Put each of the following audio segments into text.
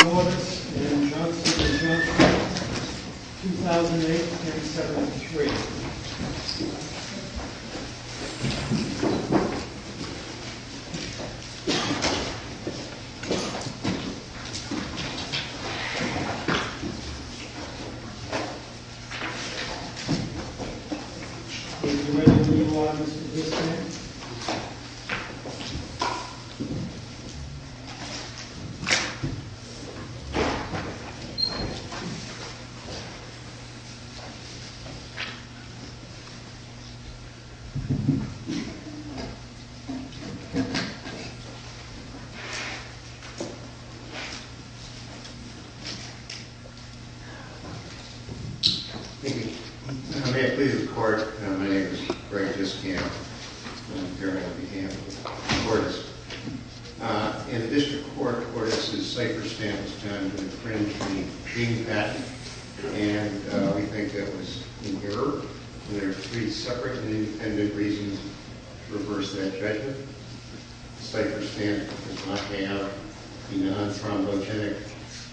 Cordis and Johnson and Johnson, 2008-1973 Would you mind if we move on to this man? Thank you. How may I please the court? My name is Greg Discamp, on behalf of Cordis. In the district court, Cordis' cipher stint was done to infringe the Ding patent. And we think that was an error. There are three separate and independent reasons to reverse that judgment. The cipher stint does not have the non-thrombogenic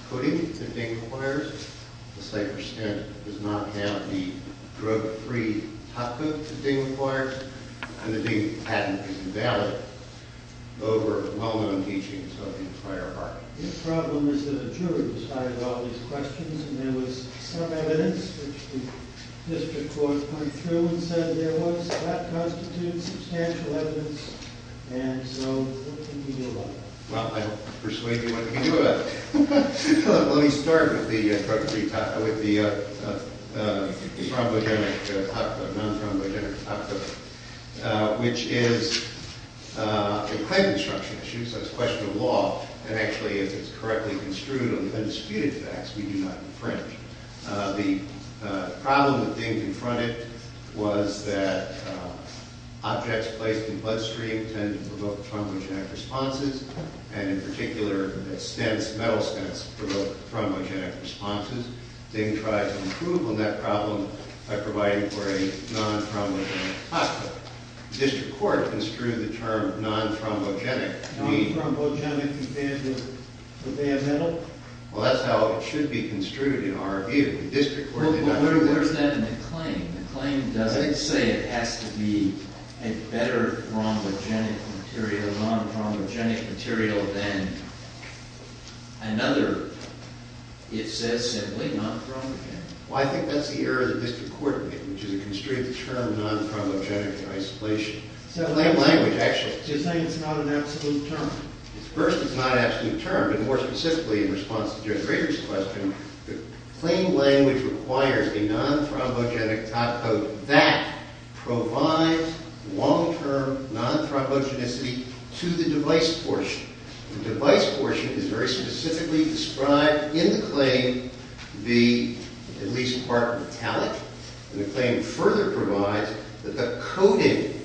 coating that Ding requires. The cipher stint does not have the drug-free top coat that Ding requires. And the Ding patent is invalid over well-known teachings of the entire art. The problem is that a jury decided all these questions, and there was some evidence which the district court went through and said there was. That constitutes substantial evidence, and so what can we do about it? Well, I don't persuade you what to do about it. Let me start with the non-thrombogenic top coat, which is a pipe-construction issue, so it's a question of law. And actually, if it's correctly construed on the undisputed facts, we do not infringe. The problem with Ding confronted was that objects placed in bloodstream tend to provoke thrombogenic responses. And in particular, stents, metal stents, provoke thrombogenic responses. Ding tried to improve on that problem by providing for a non-thrombogenic top coat. The district court construed the term non-thrombogenic to mean— Non-thrombogenic compared to the bad metal? Well, that's how it should be construed in our view. The district court did not— But where's that in the claim? The claim doesn't say it has to be a better thrombogenic material, non-thrombogenic material, than another. It says simply non-thrombogenic. Well, I think that's the error of the district court, which is to constrain the term non-thrombogenic isolation. The claim language actually— You're saying it's not an absolute term. First, it's not an absolute term, and more specifically, in response to Judge Rader's question, the claim language requires a non-thrombogenic top coat. That provides long-term non-thrombogenicity to the device portion. The device portion is very specifically described in the claim to be at least part metallic. And the claim further provides that the coating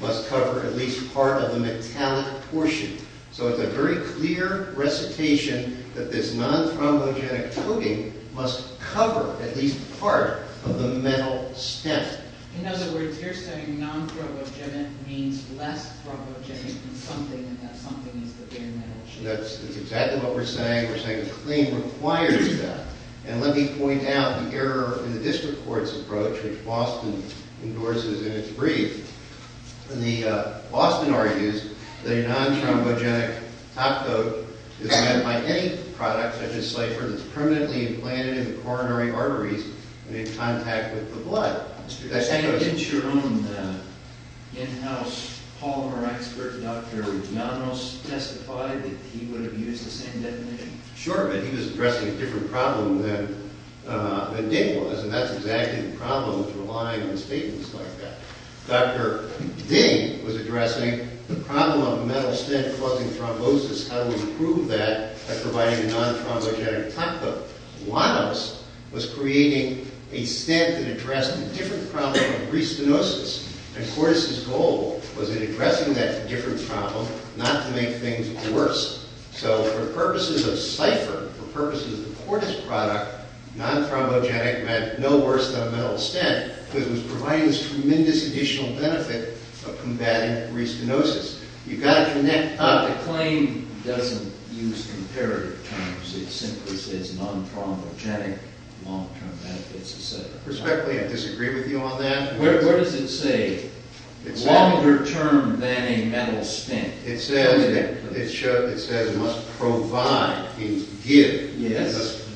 must cover at least part of the metallic portion. So it's a very clear recitation that this non-thrombogenic coating must cover at least part of the metal stem. In other words, you're saying non-thrombogenic means less thrombogenic than something, and that something is the bare metal. That's exactly what we're saying. We're saying the claim requires that. And let me point out the error in the district court's approach, which Boston endorses in its brief. The—Boston argues that a non-thrombogenic top coat is meant by any product, such as Slifer, that's permanently implanted in the coronary arteries and in contact with the blood. Did your own in-house Palmer expert, Dr. Llanos, testify that he would have used the same definition? Sure, but he was addressing a different problem than Dick was, and that's exactly the problem with relying on statements like that. Dr. Ding was addressing the problem of a metal stem causing thrombosis. How do we prove that by providing a non-thrombogenic top coat? Llanos was creating a stent that addressed a different problem of pre-stenosis, and Cortis' goal was in addressing that different problem, not to make things worse. So for purposes of Slifer, for purposes of the Cortis product, non-thrombogenic meant no worse than a metal stent, because it was providing this tremendous additional benefit of combating pre-stenosis. You've got to connect— The claim doesn't use comparative terms. It simply says non-thrombogenic, long-term benefits, et cetera. Respectfully, I disagree with you on that. Where does it say longer-term than a metal stent? It says it must provide, give,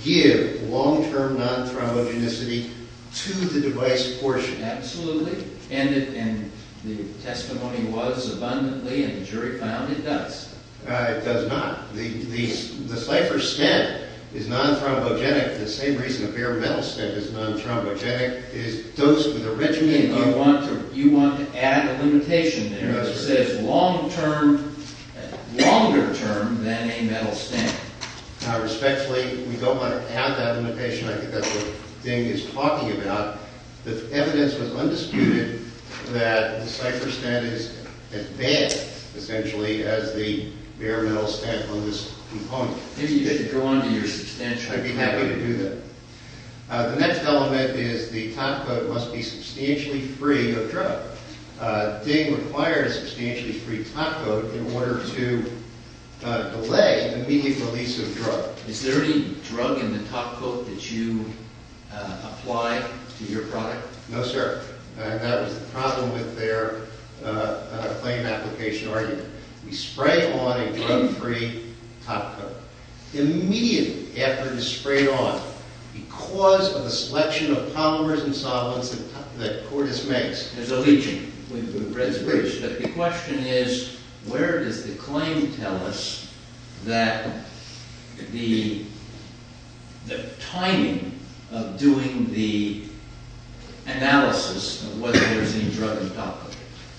give long-term non-thrombogenicity to the device portion. Absolutely, and the testimony was abundantly, and the jury found it does. It does not. The Slifer stent is non-thrombogenic for the same reason a bare metal stent is non-thrombogenic. It's dosed with a rich— You want to add a limitation there. It says long-term, longer-term than a metal stent. Respectfully, we don't want to add that limitation. I think that's what Ding is talking about. The evidence was undisputed that the Slifer stent is as bad, essentially, as the bare metal stent on this component. Maybe you should go on to your substantial claim. I'd be happy to do that. The next element is the topcoat must be substantially free of drug. Ding requires substantially free topcoat in order to delay immediate release of drug. Is there any drug in the topcoat that you apply to your product? No, sir. That was the problem with their claim application argument. We spray on a drug-free topcoat. Immediately after it is sprayed on, because of the selection of polymers and solvents that Cordis makes, there's a leaching. The question is, where does the claim tell us that the timing of doing the analysis of whether there is any drug in the topcoat?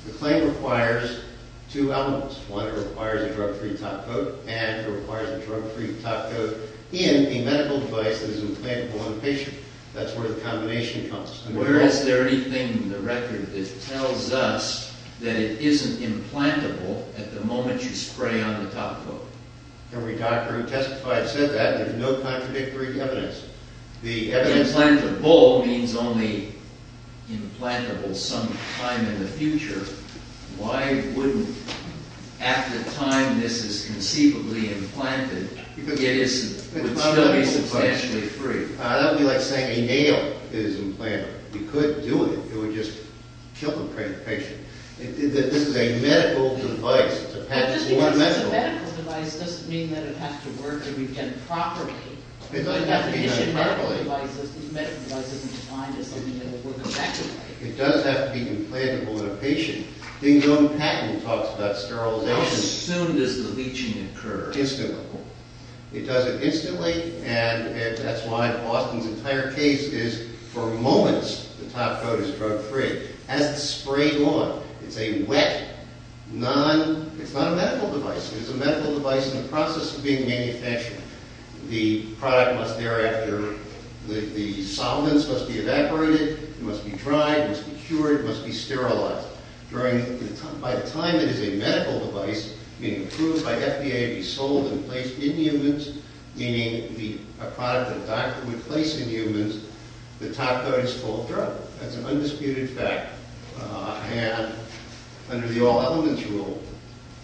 The claim requires two elements. One, it requires a drug-free topcoat, and it requires a drug-free topcoat in a medical device that is implantable on a patient. That's where the combination comes. Where is there anything in the record that tells us that it isn't implantable at the moment you spray on the topcoat? Every doctor who testified said that. There's no contradictory evidence. Implantable means only implantable some time in the future. Why wouldn't, at the time this is conceivably implanted, it would still be substantially free? That would be like saying a nail is implantable. You could do it. It would just kill the patient. This is a medical device. Just because it's a medical device doesn't mean that it has to work or be done properly. It doesn't have to be done properly. These medical devices are designed as something that will work effectively. It does have to be implantable on a patient. Ding-Dong Patton talks about sterilization. How soon does the leaching occur? Instantly. It does it instantly, and that's why Austin's entire case is, for moments, the topcoat is drug-free. As it's sprayed on, it's a wet, non- It's not a medical device. It's a medical device in the process of being manufactured. The product must thereafter- The solvents must be evaporated. It must be dried. It must be cured. It must be sterilized. By the time it is a medical device, being approved by the FDA to be sold and placed in humans, meaning a product that a doctor would place in humans, the topcoat is called drug. That's an undisputed fact. And under the all-elements rule,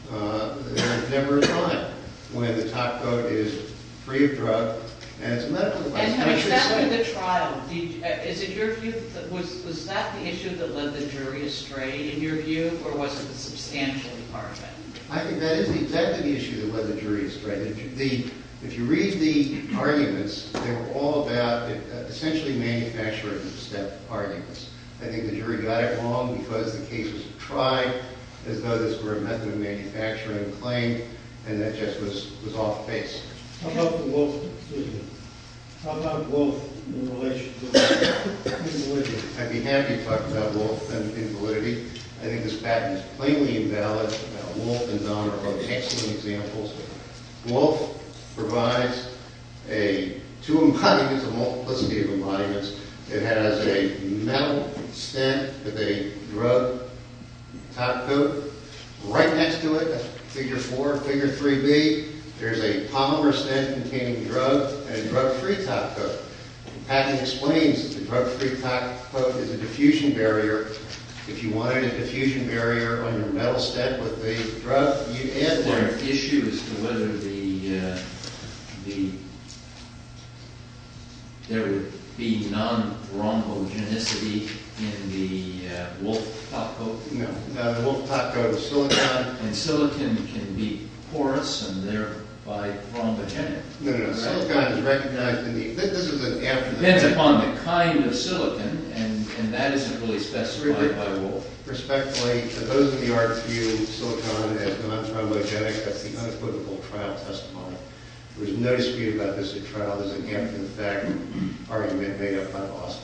there is never a time when the topcoat is free of drug and it's a medical device. And exactly the trial, was that the issue that led the jury astray, in your view, or was it the substantial part of it? I think that is exactly the issue that led the jury astray. If you read the arguments, they were all about essentially manufacturing-step arguments. I think the jury got it wrong because the case was tried as though this were a method of manufacturing a claim, and that just was off-base. How about the wolf- Excuse me. How about wolf in relation to invalidity? I'd be happy to talk about wolf and invalidity. I think this patent is plainly invalid. Wolf and Don are both excellent examples. Wolf provides two embodiments, a multiplicity of embodiments. It has a metal stent with a drug topcoat. Right next to it, figure 4, figure 3B, there's a polymer stent containing drug and a drug-free topcoat. The patent explains that the drug-free topcoat is a diffusion barrier. If you wanted a diffusion barrier on your metal stent with a drug, you'd add that. Is there an issue as to whether there would be non-rhombogenicity in the wolf topcoat? No. The wolf topcoat is silicon, and silicon can be porous, and thereby rhombogenic. No, no, no. Silicon is recognized in the- It depends upon the kind of silicon, and that isn't really specified by wolf. Respectfully, to those of you who argue silicon is non-rhombogenic, that's the unequivocal trial testimony. There's no dispute about this at trial. There's a gap in the fact argument made up by Lawson.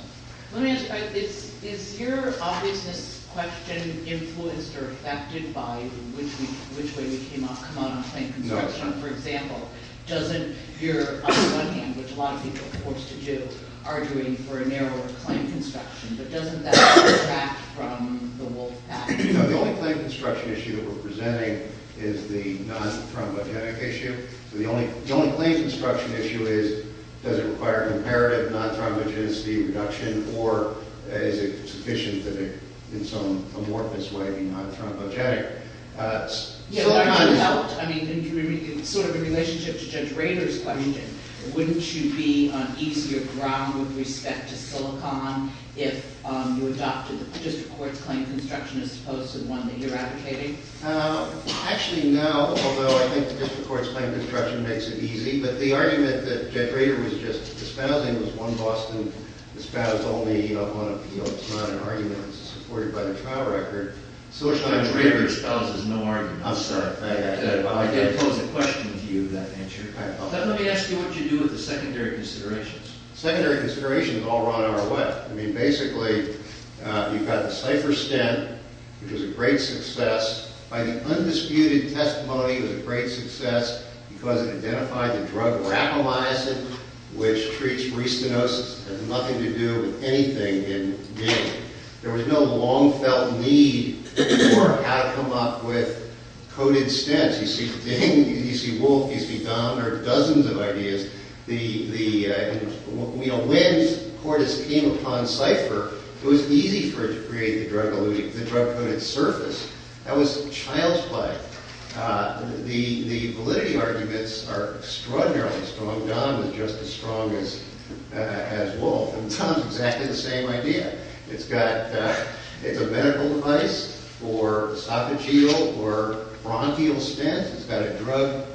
Let me ask you about this. Is your obviousness question influenced or affected by which way we came out on claim construction? No. For example, doesn't your, on the one hand, which a lot of people are forced to do, arguing for a narrower claim construction, but doesn't that detract from the wolf pack? No, the only claim construction issue that we're presenting is the non-rhombogenic issue. The only claim construction issue is does it require comparative non-rhombogenicity reduction, or is it sufficient that it, in some amorphous way, be non-rhombogenic? I mean, sort of in relationship to Judge Rader's question, wouldn't you be on easier ground with respect to silicon if you adopted the district court's claim construction as opposed to the one that you're advocating? Actually, no, although I think the district court's claim construction makes it easy. But the argument that Judge Rader was just espousing was one Boston espoused only on appeal. It's not an argument. It's supported by the trial record. Judge Rader espouses no argument. I'm sorry. I didn't pose a question to you, that answer. Let me ask you what you do with the secondary considerations. Secondary considerations all run our way. I mean, basically, you've got the Cypher stint, which was a great success. By the undisputed testimony, it was a great success because it identified the drug rapamycin, which treats restenosis. It had nothing to do with anything in dealing. There was no long-felt need for how to come up with coded stints. You see Ding, you see Wolf, you see Don. There are dozens of ideas. When Cordes came upon Cypher, it was easy for it to create the drug-coded surface. That was child's play. The validity arguments are extraordinarily strong. Don was just as strong as Wolf. And Tom's exactly the same idea. It's a medical device for esophageal or bronchial stints. It's got a drug.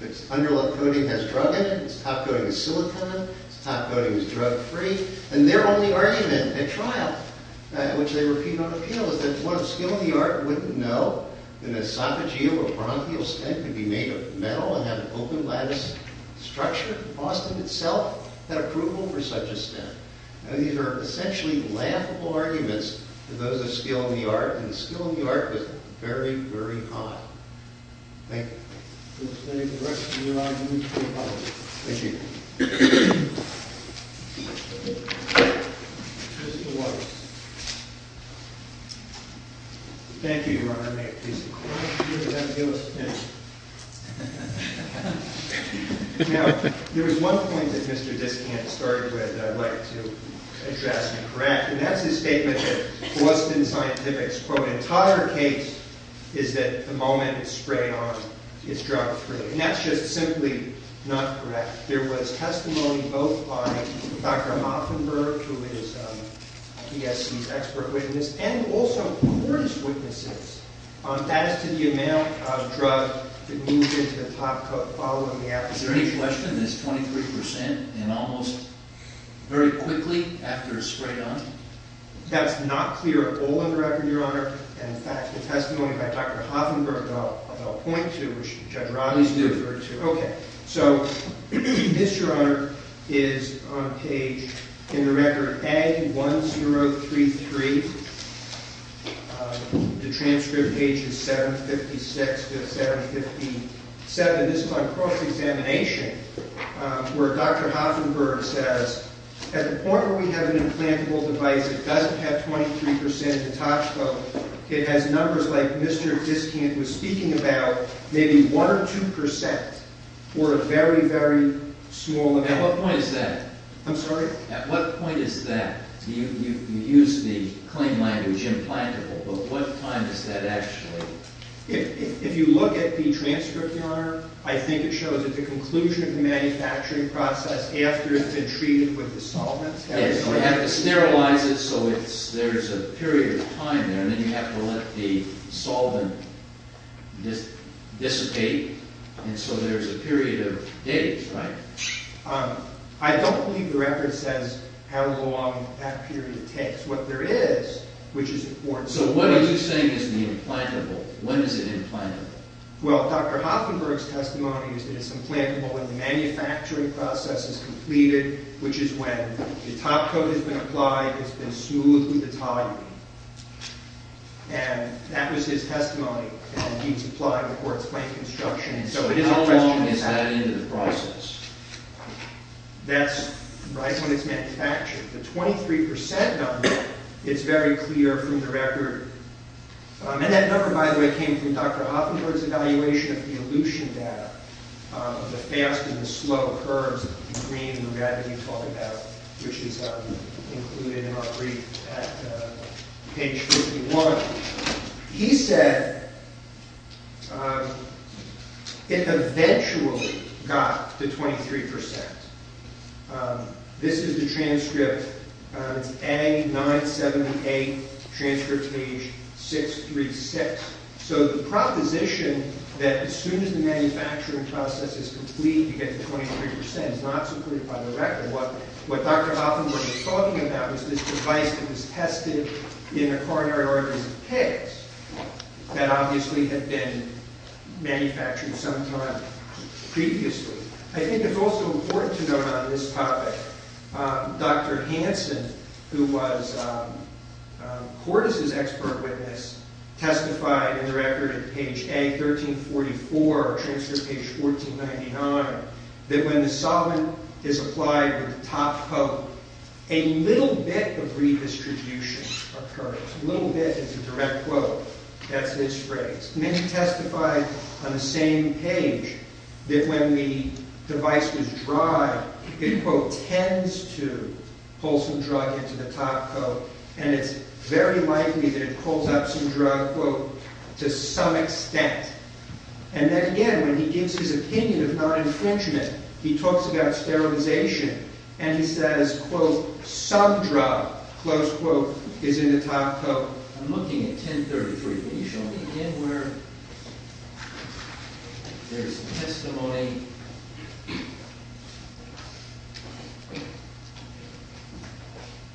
Its underlip coating has drug in it. Its top coating is silicon. Its top coating is drug-free. And their only argument at trial, which they repeated on appeal, was that one of skill in the art wouldn't know that an esophageal or bronchial stint could be made of metal and have an open lattice structure. Boston itself had approval for such a stint. Now these are essentially laughable arguments to those of skill in the art, and skill in the art was very, very odd. Thank you. We'll stay for the rest of your arguments. Thank you. May it please the Court. Now, there was one point that Mr. Dyskant started with that I'd like to address and correct. And that's his statement that Boston Scientific's, quote, entire case is that the moment it's sprayed on, it's drug-free. And that's just simply not correct. There was testimony both by Dr. Hoffenberg, who is BSC's expert witness, and also court's witnesses. That is to the amount of drug that moves into the top coat following the application. Is there any question that it's 23% and almost very quickly after it's sprayed on? That's not clear at all in the record, Your Honor. In fact, the testimony by Dr. Hoffenberg about point two, which Judge Rodley referred to. Please do. Okay. So this, Your Honor, is on page, in the record, A1033. The transcript page is 756 to 757. This is on cross-examination, where Dr. Hoffenberg says, at the point where we have an implantable device that doesn't have 23% in the top coat, it has numbers like Mr. Diskant was speaking about, maybe 1% or 2% or a very, very small amount. At what point is that? I'm sorry? At what point is that? You use the claim language, implantable, but what time is that actually? If you look at the transcript, Your Honor, I think it shows that the conclusion of the manufacturing process after it's been treated with the solvent. So you have to sterilize it so there's a period of time there, and then you have to let the solvent dissipate, and so there's a period of days, right? I don't believe the record says how long that period takes. What there is, which is important. So what are you saying is the implantable? When is it implantable? Well, Dr. Hoffenberg's testimony is that it's implantable when the manufacturing process is completed, which is when the top coat has been applied, it's been smoothed with the toluene. And that was his testimony, and he's applied before it's plain construction. So how long is that into the process? That's right when it's manufactured. The 23% number is very clear from the record. And that number, by the way, came from Dr. Hoffenberg's evaluation of the elution data, the fast and the slow curves, the green and red that you talk about, which is included in our brief at page 51. He said it eventually got to 23%. This is the transcript. It's A978, transcript page 636. So the proposition that as soon as the manufacturing process is complete, you get to 23%, is not so clear by the record. What Dr. Hoffenberg is talking about is this device that was tested in the coronary organs of pigs that obviously had been manufactured sometime previously. I think it's also important to note on this topic, Dr. Hansen, who was Cordes' expert witness, testified in the record at page A1344, or transcript page 1499, that when the solvent is applied with the top coat, a little bit of redistribution occurs. A little bit is a direct quote. That's his phrase. Many testified on the same page that when the device was dried, it, quote, tends to pull some drug into the top coat, and it's very likely that it pulls up some drug, quote, to some extent. And then again, when he gives his opinion of non-infringement, he talks about sterilization, and he says, quote, some drug, close quote, is in the top coat. I'm looking at 1033. Can you show me again where there's testimony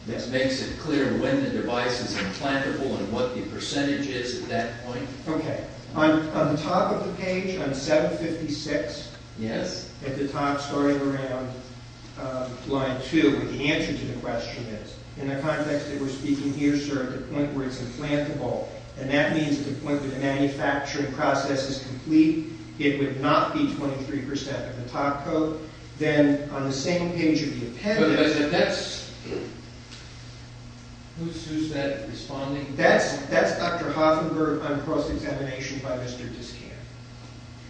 that makes it clear when the device is implantable and what the percentage is at that point? Okay. On the top of the page, on 756, at the top, starting around line 2, where the answer to the question is. In the context that we're speaking here, sir, at the point where it's implantable, and that means at the point where the manufacturing process is complete, it would not be 23% of the top coat. Then on the same page of the appendix. Who's that responding? That's Dr. Hoffenberg on cross-examination by Mr. Discan.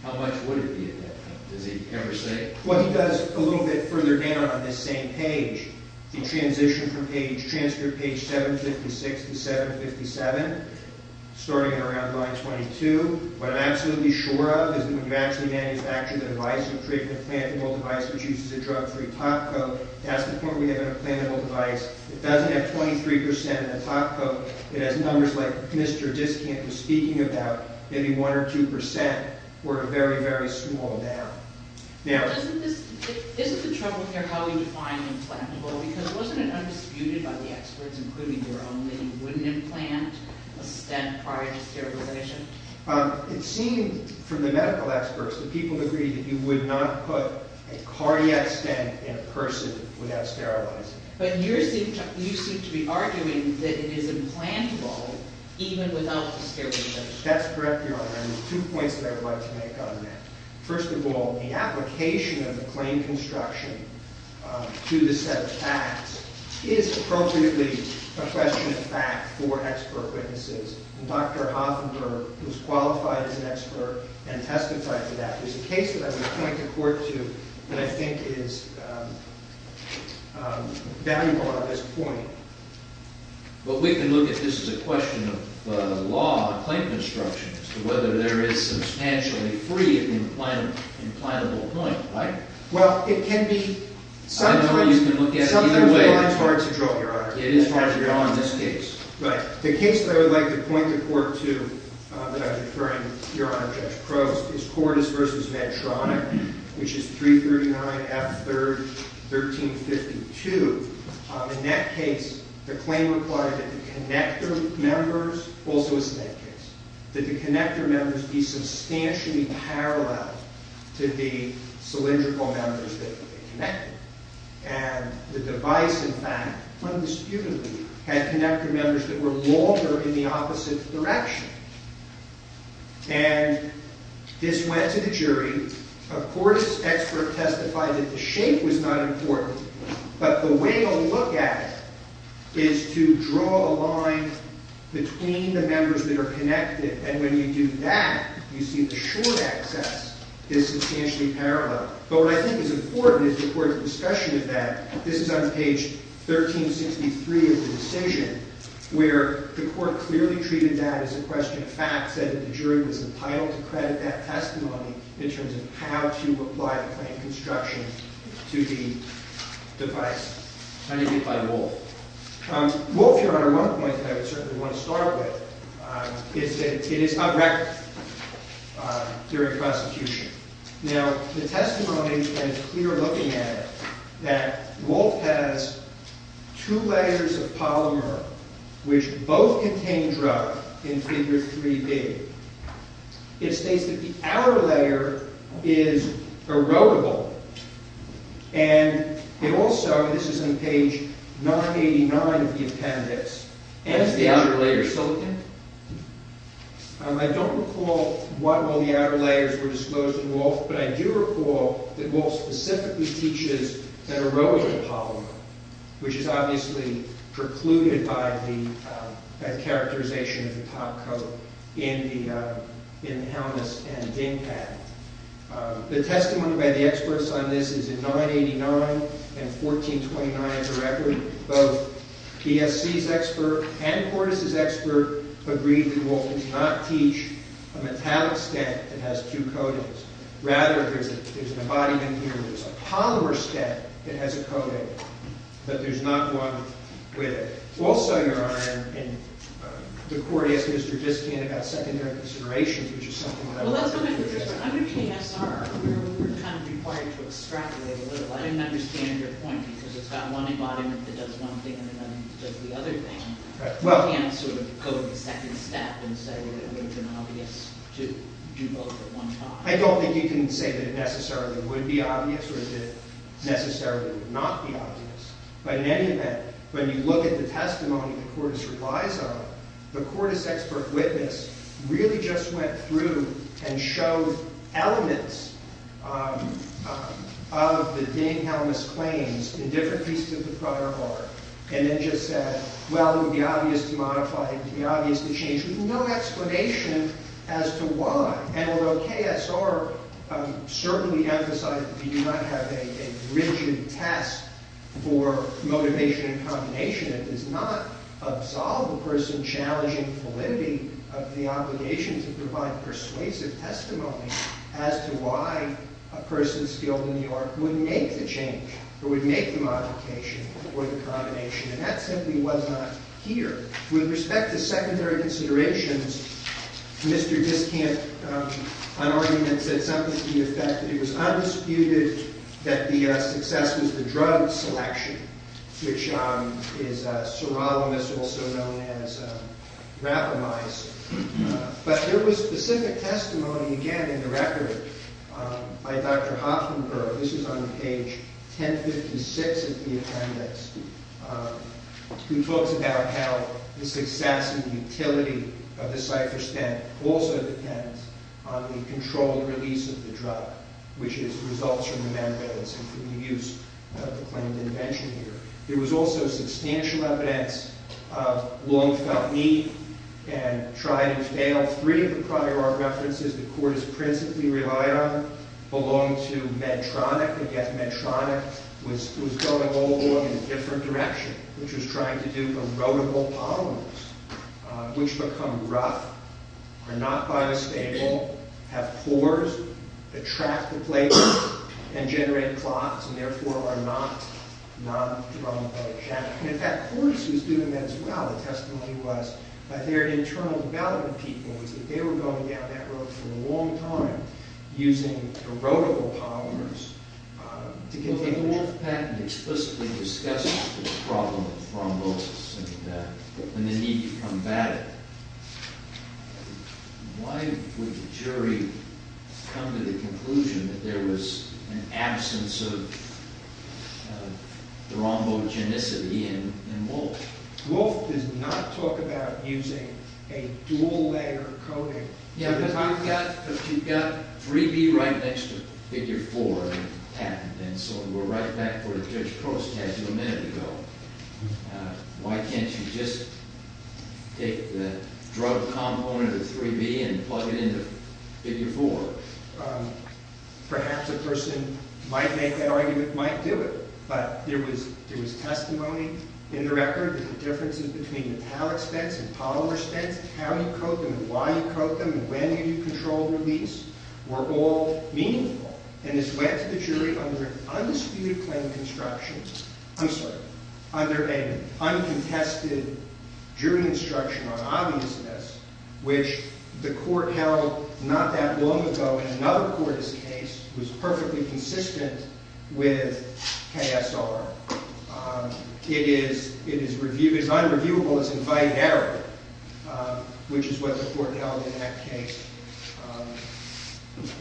How much would it be at that point? Does he ever say it? What he does a little bit further down on this same page, the transition from page, transcript page 756 to 757, starting around line 22. What I'm absolutely sure of is that when you actually manufacture the device and create an implantable device which uses a drug-free top coat, that's the point where we have an implantable device. It doesn't have 23% in the top coat. It has numbers like Mr. Discan was speaking about. Maybe 1% or 2% were very, very small down. Isn't the trouble here how we define implantable? Because wasn't it undisputed by the experts, including your own, that you wouldn't implant a stent prior to sterilization? It seemed from the medical experts that people agreed that you would not put a cardiac stent in a person without sterilizing. But you seem to be arguing that it is implantable even without sterilization. That's correct, Your Honor. And there's two points that I would like to make on that. First of all, the application of the claim construction to the set of facts is appropriately a question of fact for expert witnesses. And Dr. Hoffenberg, who's qualified as an expert and testified to that, is a case that I would point the court to and I think is valuable on this point. But we can look at this as a question of law, claim construction, as to whether there is substantially free implantable point, right? Well, it can be sometimes hard to draw, Your Honor. It is hard to draw in this case. Right. The case that I would like to point the court to that I'm deferring, Your Honor, Judge Crowe, is Cordes v. Medtronic, which is 339 F. 3rd, 1352. In that case, the claim required that the connector members also, in this case, that the connector members be substantially parallel to the cylindrical members that would be connected. And the device, in fact, undisputedly, had connector members that were longer in the opposite direction. And this went to the jury. Of course, expert testified that the shape was not important, but the way to look at it is to draw a line between the members that are connected. And when you do that, you see the short access is substantially parallel. But what I think is important is the court's discussion of that. This is on page 1363 of the decision, where the court clearly treated that as a question of fact, said that the jury was entitled to credit that testimony in terms of how to apply the claim construction to the device. How do you apply WOLF? WOLF, Your Honor, one point that I would certainly want to start with is that it is a record during prosecution. Now, the testimony that we are looking at, that WOLF has two layers of polymer which both contain drug in Figure 3B. It states that the outer layer is erodible. And it also, this is on page 989 of the appendix, And is the outer layer silicon? I don't recall what all the outer layers were disclosed in WOLF, but I do recall that WOLF specifically teaches that erodible polymer, which is obviously precluded by the characterization of the top coat in the helmets and ding pad. The testimony by the experts on this is in 989 and 1429, both ESC's expert and Cordes' expert agree that WOLF does not teach a metallic step that has two coatings. Rather, there's an embodiment here, there's a polymer step that has a coating, but there's not one with it. Also, Your Honor, the court asked Mr. Diskin about secondary considerations, which is something that I wanted to address. Well, let's go back to this one. Under KSR, we're kind of required to extrapolate a little. I didn't understand your point because it's got one embodiment that does one thing and then does the other thing. You can't sort of go to the second step and say that it would have been obvious to do both at one time. I don't think you can say that it necessarily would be obvious or that it necessarily would not be obvious. But in any event, when you look at the testimony that Cordes replies on, the Cordes expert witness really just went through and showed elements of the ding helmets claims in different pieces of the prior bar and then just said, well, it would be obvious to modify, it would be obvious to change, with no explanation as to why. And although KSR certainly emphasized that we do not have a rigid test for motivation and combination, it does not absolve a person challenging validity of the obligation to provide persuasive testimony as to why a person skilled in the art would make the change or would make the modification or the combination. And that simply was not here. With respect to secondary considerations, Mr. Diskamp, on argument, said something to the effect that it was undisputed that the success was the drug selection, which is sirolimus, also known as rapamyze. But there was specific testimony, again, in the record by Dr. Hoffenberg. This is on page 1056 of the appendix. He talks about how the success and utility of the cipher stamp also depends on the controlled release of the drug, which is the results from the membranes and from the use of the claimed intervention here. There was also substantial evidence of long-felt need and tried-and-failed. Three of the prior art references the court has principally relied on belong to Medtronic. And yet Medtronic was going all along in a different direction, which was trying to do erodible polymers, which become rough, are not biostable, have pores that track the flavor and generate clots and therefore are not non-drug-related. And in fact, Cordes was doing that as well. The testimony was that their internal development people was that they were going down that road for a long time using erodible polymers. The Wolf patent explicitly discusses the problem of thrombosis and the need to combat it. Why would the jury come to the conclusion that there was an absence of thrombogenicity in Wolf? Wolf does not talk about using a dual-layer coating. Yeah, but you've got 3B right next to Figure 4 patent, and so we're right back where Judge Cordes had you a minute ago. Why can't you just take the drug component of 3B and plug it into Figure 4? Perhaps a person who might make that argument might do it, but there was testimony in the record that the differences between metallic spents and polymer spents, how you coat them, why you coat them, and when you control release were all meaningful. And this went to the jury under an undisputed claim construction. I'm sorry, under an uncontested jury instruction on obviousness, which the court held not that long ago in another Cordes case was perfectly consistent with KSR. It is unreviewable as invited error, which is what the court held in that case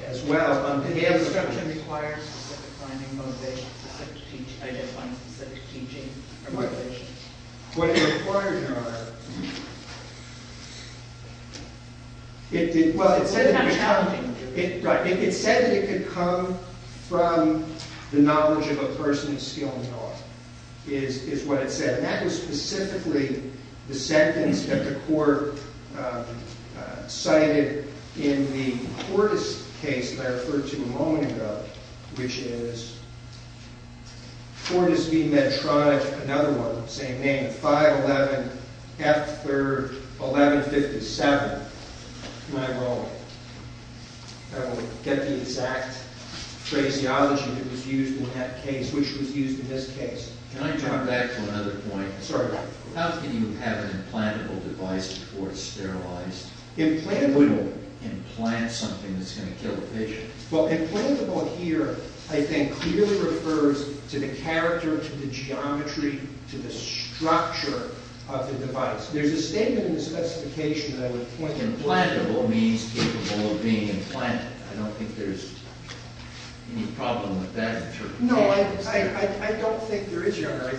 as well. Did the instruction require specific finding motivation to identify specific teaching motivations? What it required, Your Honor, it did. Well, it said that it could come from the knowledge of a person of skill and knowledge is what it said. And that was specifically the sentence that the court cited in the Cordes case that I referred to a moment ago, which is Cordes B. Medtronich, another one, same name, 511 F. 3rd 1157, my wrong. I don't get the exact phraseology that was used in that case, which was used in this case. Can I jump back to another point? Certainly. How can you have an implantable device before it's sterilized? Implantable. You wouldn't implant something that's going to kill a patient. Well, implantable here, I think, clearly refers to the character, to the geometry, to the structure of the device. There's a statement in the specification that I would point to. Implantable means capable of being implanted. I don't think there's any problem with that interpretation. No, I don't think there is, Your Honor.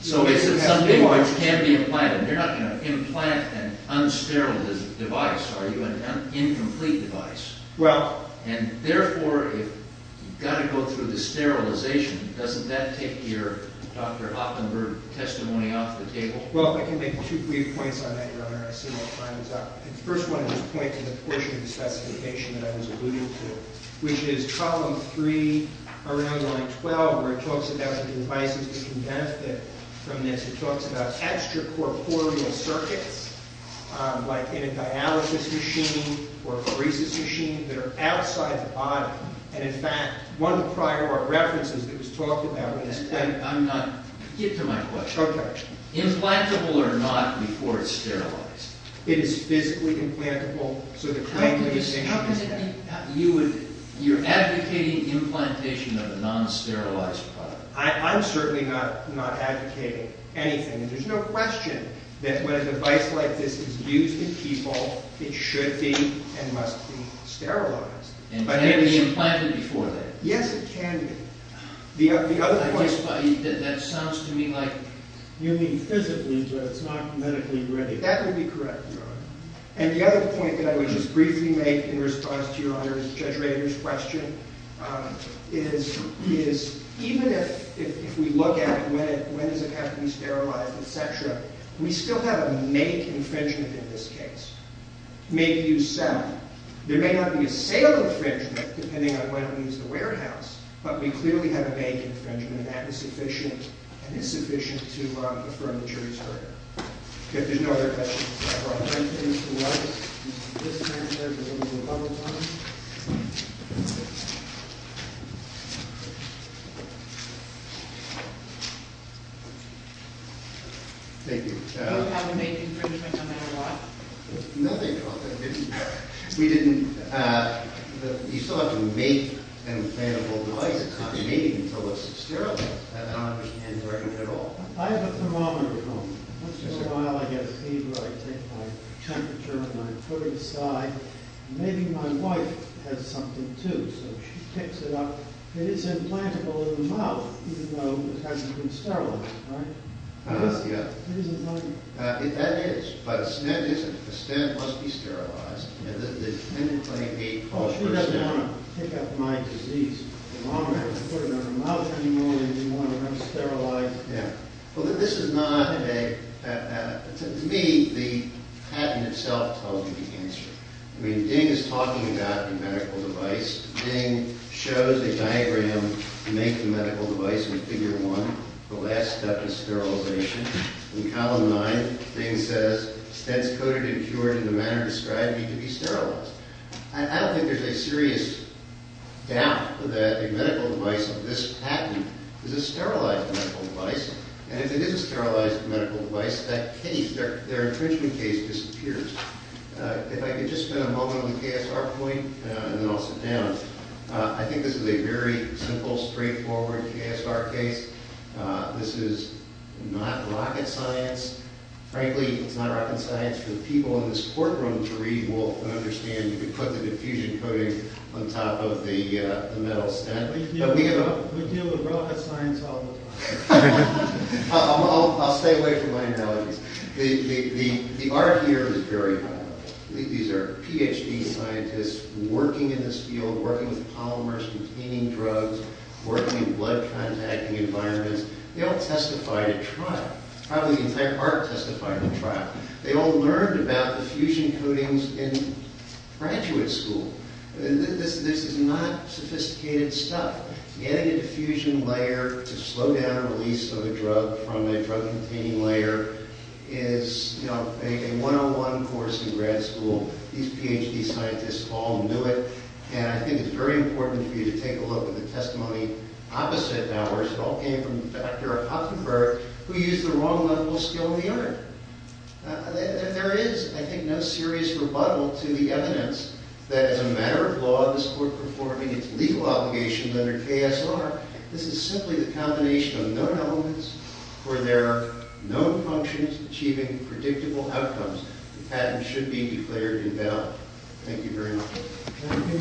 So is it something which can be implanted? You're not going to implant an unsterilized device, are you, an incomplete device? Well. And therefore, you've got to go through the sterilization. Doesn't that take your Dr. Hoppenberg testimony off the table? Well, I can make two brief points on that, Your Honor. I see my time is up. First, I want to just point to the portion of the specification that I was alluding to, which is column 3, around line 12, where it talks about the devices that can benefit from this. It talks about extracorporeal circuits, like in a dialysis machine or a barista's machine, that are outside the body. And, in fact, one of the prior references that was talked about was that. Get to my question. Okay. Implantable or not before it's sterilized? It is physically implantable. So the claim that you're saying is that. How does it mean? You're advocating implantation of a non-sterilized product. I'm certainly not advocating anything. And there's no question that when a device like this is used in people, it should be and must be sterilized. And can it be implanted before that? Yes, it can be. That sounds to me like you mean physically, so it's not medically ready. That would be correct, Your Honor. And the other point that I would just briefly make in response to Your Honor's question is even if we look at when does it have to be sterilized, et cetera, we still have a make infringement in this case. Make, use, sell. There may not be a sale infringement, depending on when it leaves the warehouse, but we clearly have a make infringement, and that is sufficient. And it's sufficient to affirm the jury's verdict. Okay, if there's no other questions, I'd like to introduce the witness. Mr. Blissman, there's a little bubble time. Thank you. You don't have a make infringement no matter what? No, they don't. We didn't. You still have to make an implantable device. It can't be made until it's sterilized. I don't understand the argument at all. I have a thermometer at home. Once in a while I get a fever. I take my temperature and I put it aside. Maybe my wife has something, too, so she picks it up. It is implantable in the mouth, even though it hasn't been sterilized, right? Yes, yes. It is implantable. That is, but a stent isn't. A stent must be sterilized. Oh, she doesn't want to pick up my disease. The longer I put it in her mouth anymore, the more I'm sterilized. Yeah. Well, this is not a patent. To me, the patent itself tells you the answer. I mean, Ding is talking about the medical device. Ding shows a diagram to make the medical device in Figure 1, the last step in sterilization. In Column 9, Ding says, Stents coated and cured in the manner described need to be sterilized. I don't think there's a serious doubt that a medical device of this patent is a sterilized medical device. And if it is a sterilized medical device, that case, their infringement case, disappears. If I could just spend a moment on the KSR point, and then I'll sit down. I think this is a very simple, straightforward KSR case. This is not rocket science. Frankly, it's not rocket science for the people in this courtroom to read, Wolf, and understand. You can put the diffusion coating on top of the metal stent. We deal with rocket science all the time. I'll stay away from my analogies. The art here is very high level. These are Ph.D. scientists working in this field, working with polymers, containing drugs, working in blood-contacting environments. They all testified at trial. Probably the entire court testified at trial. They all learned about diffusion coatings in graduate school. This is not sophisticated stuff. Adding a diffusion layer to slow down the release of a drug from a drug-containing layer is a one-on-one course in grad school. These Ph.D. scientists all knew it. And I think it's very important for you to take a look at the testimony opposite ours. It all came from Dr. Huffenberg, who used the wrong level of skill in the art. There is, I think, no serious rebuttal to the evidence that, as a matter of law, this court performing its legal obligations under KSR, this is simply the combination of known elements for their known functions, achieving predictable outcomes. The patent should be declared invalid. Thank you very much. Thank you. This hearing is adjourned.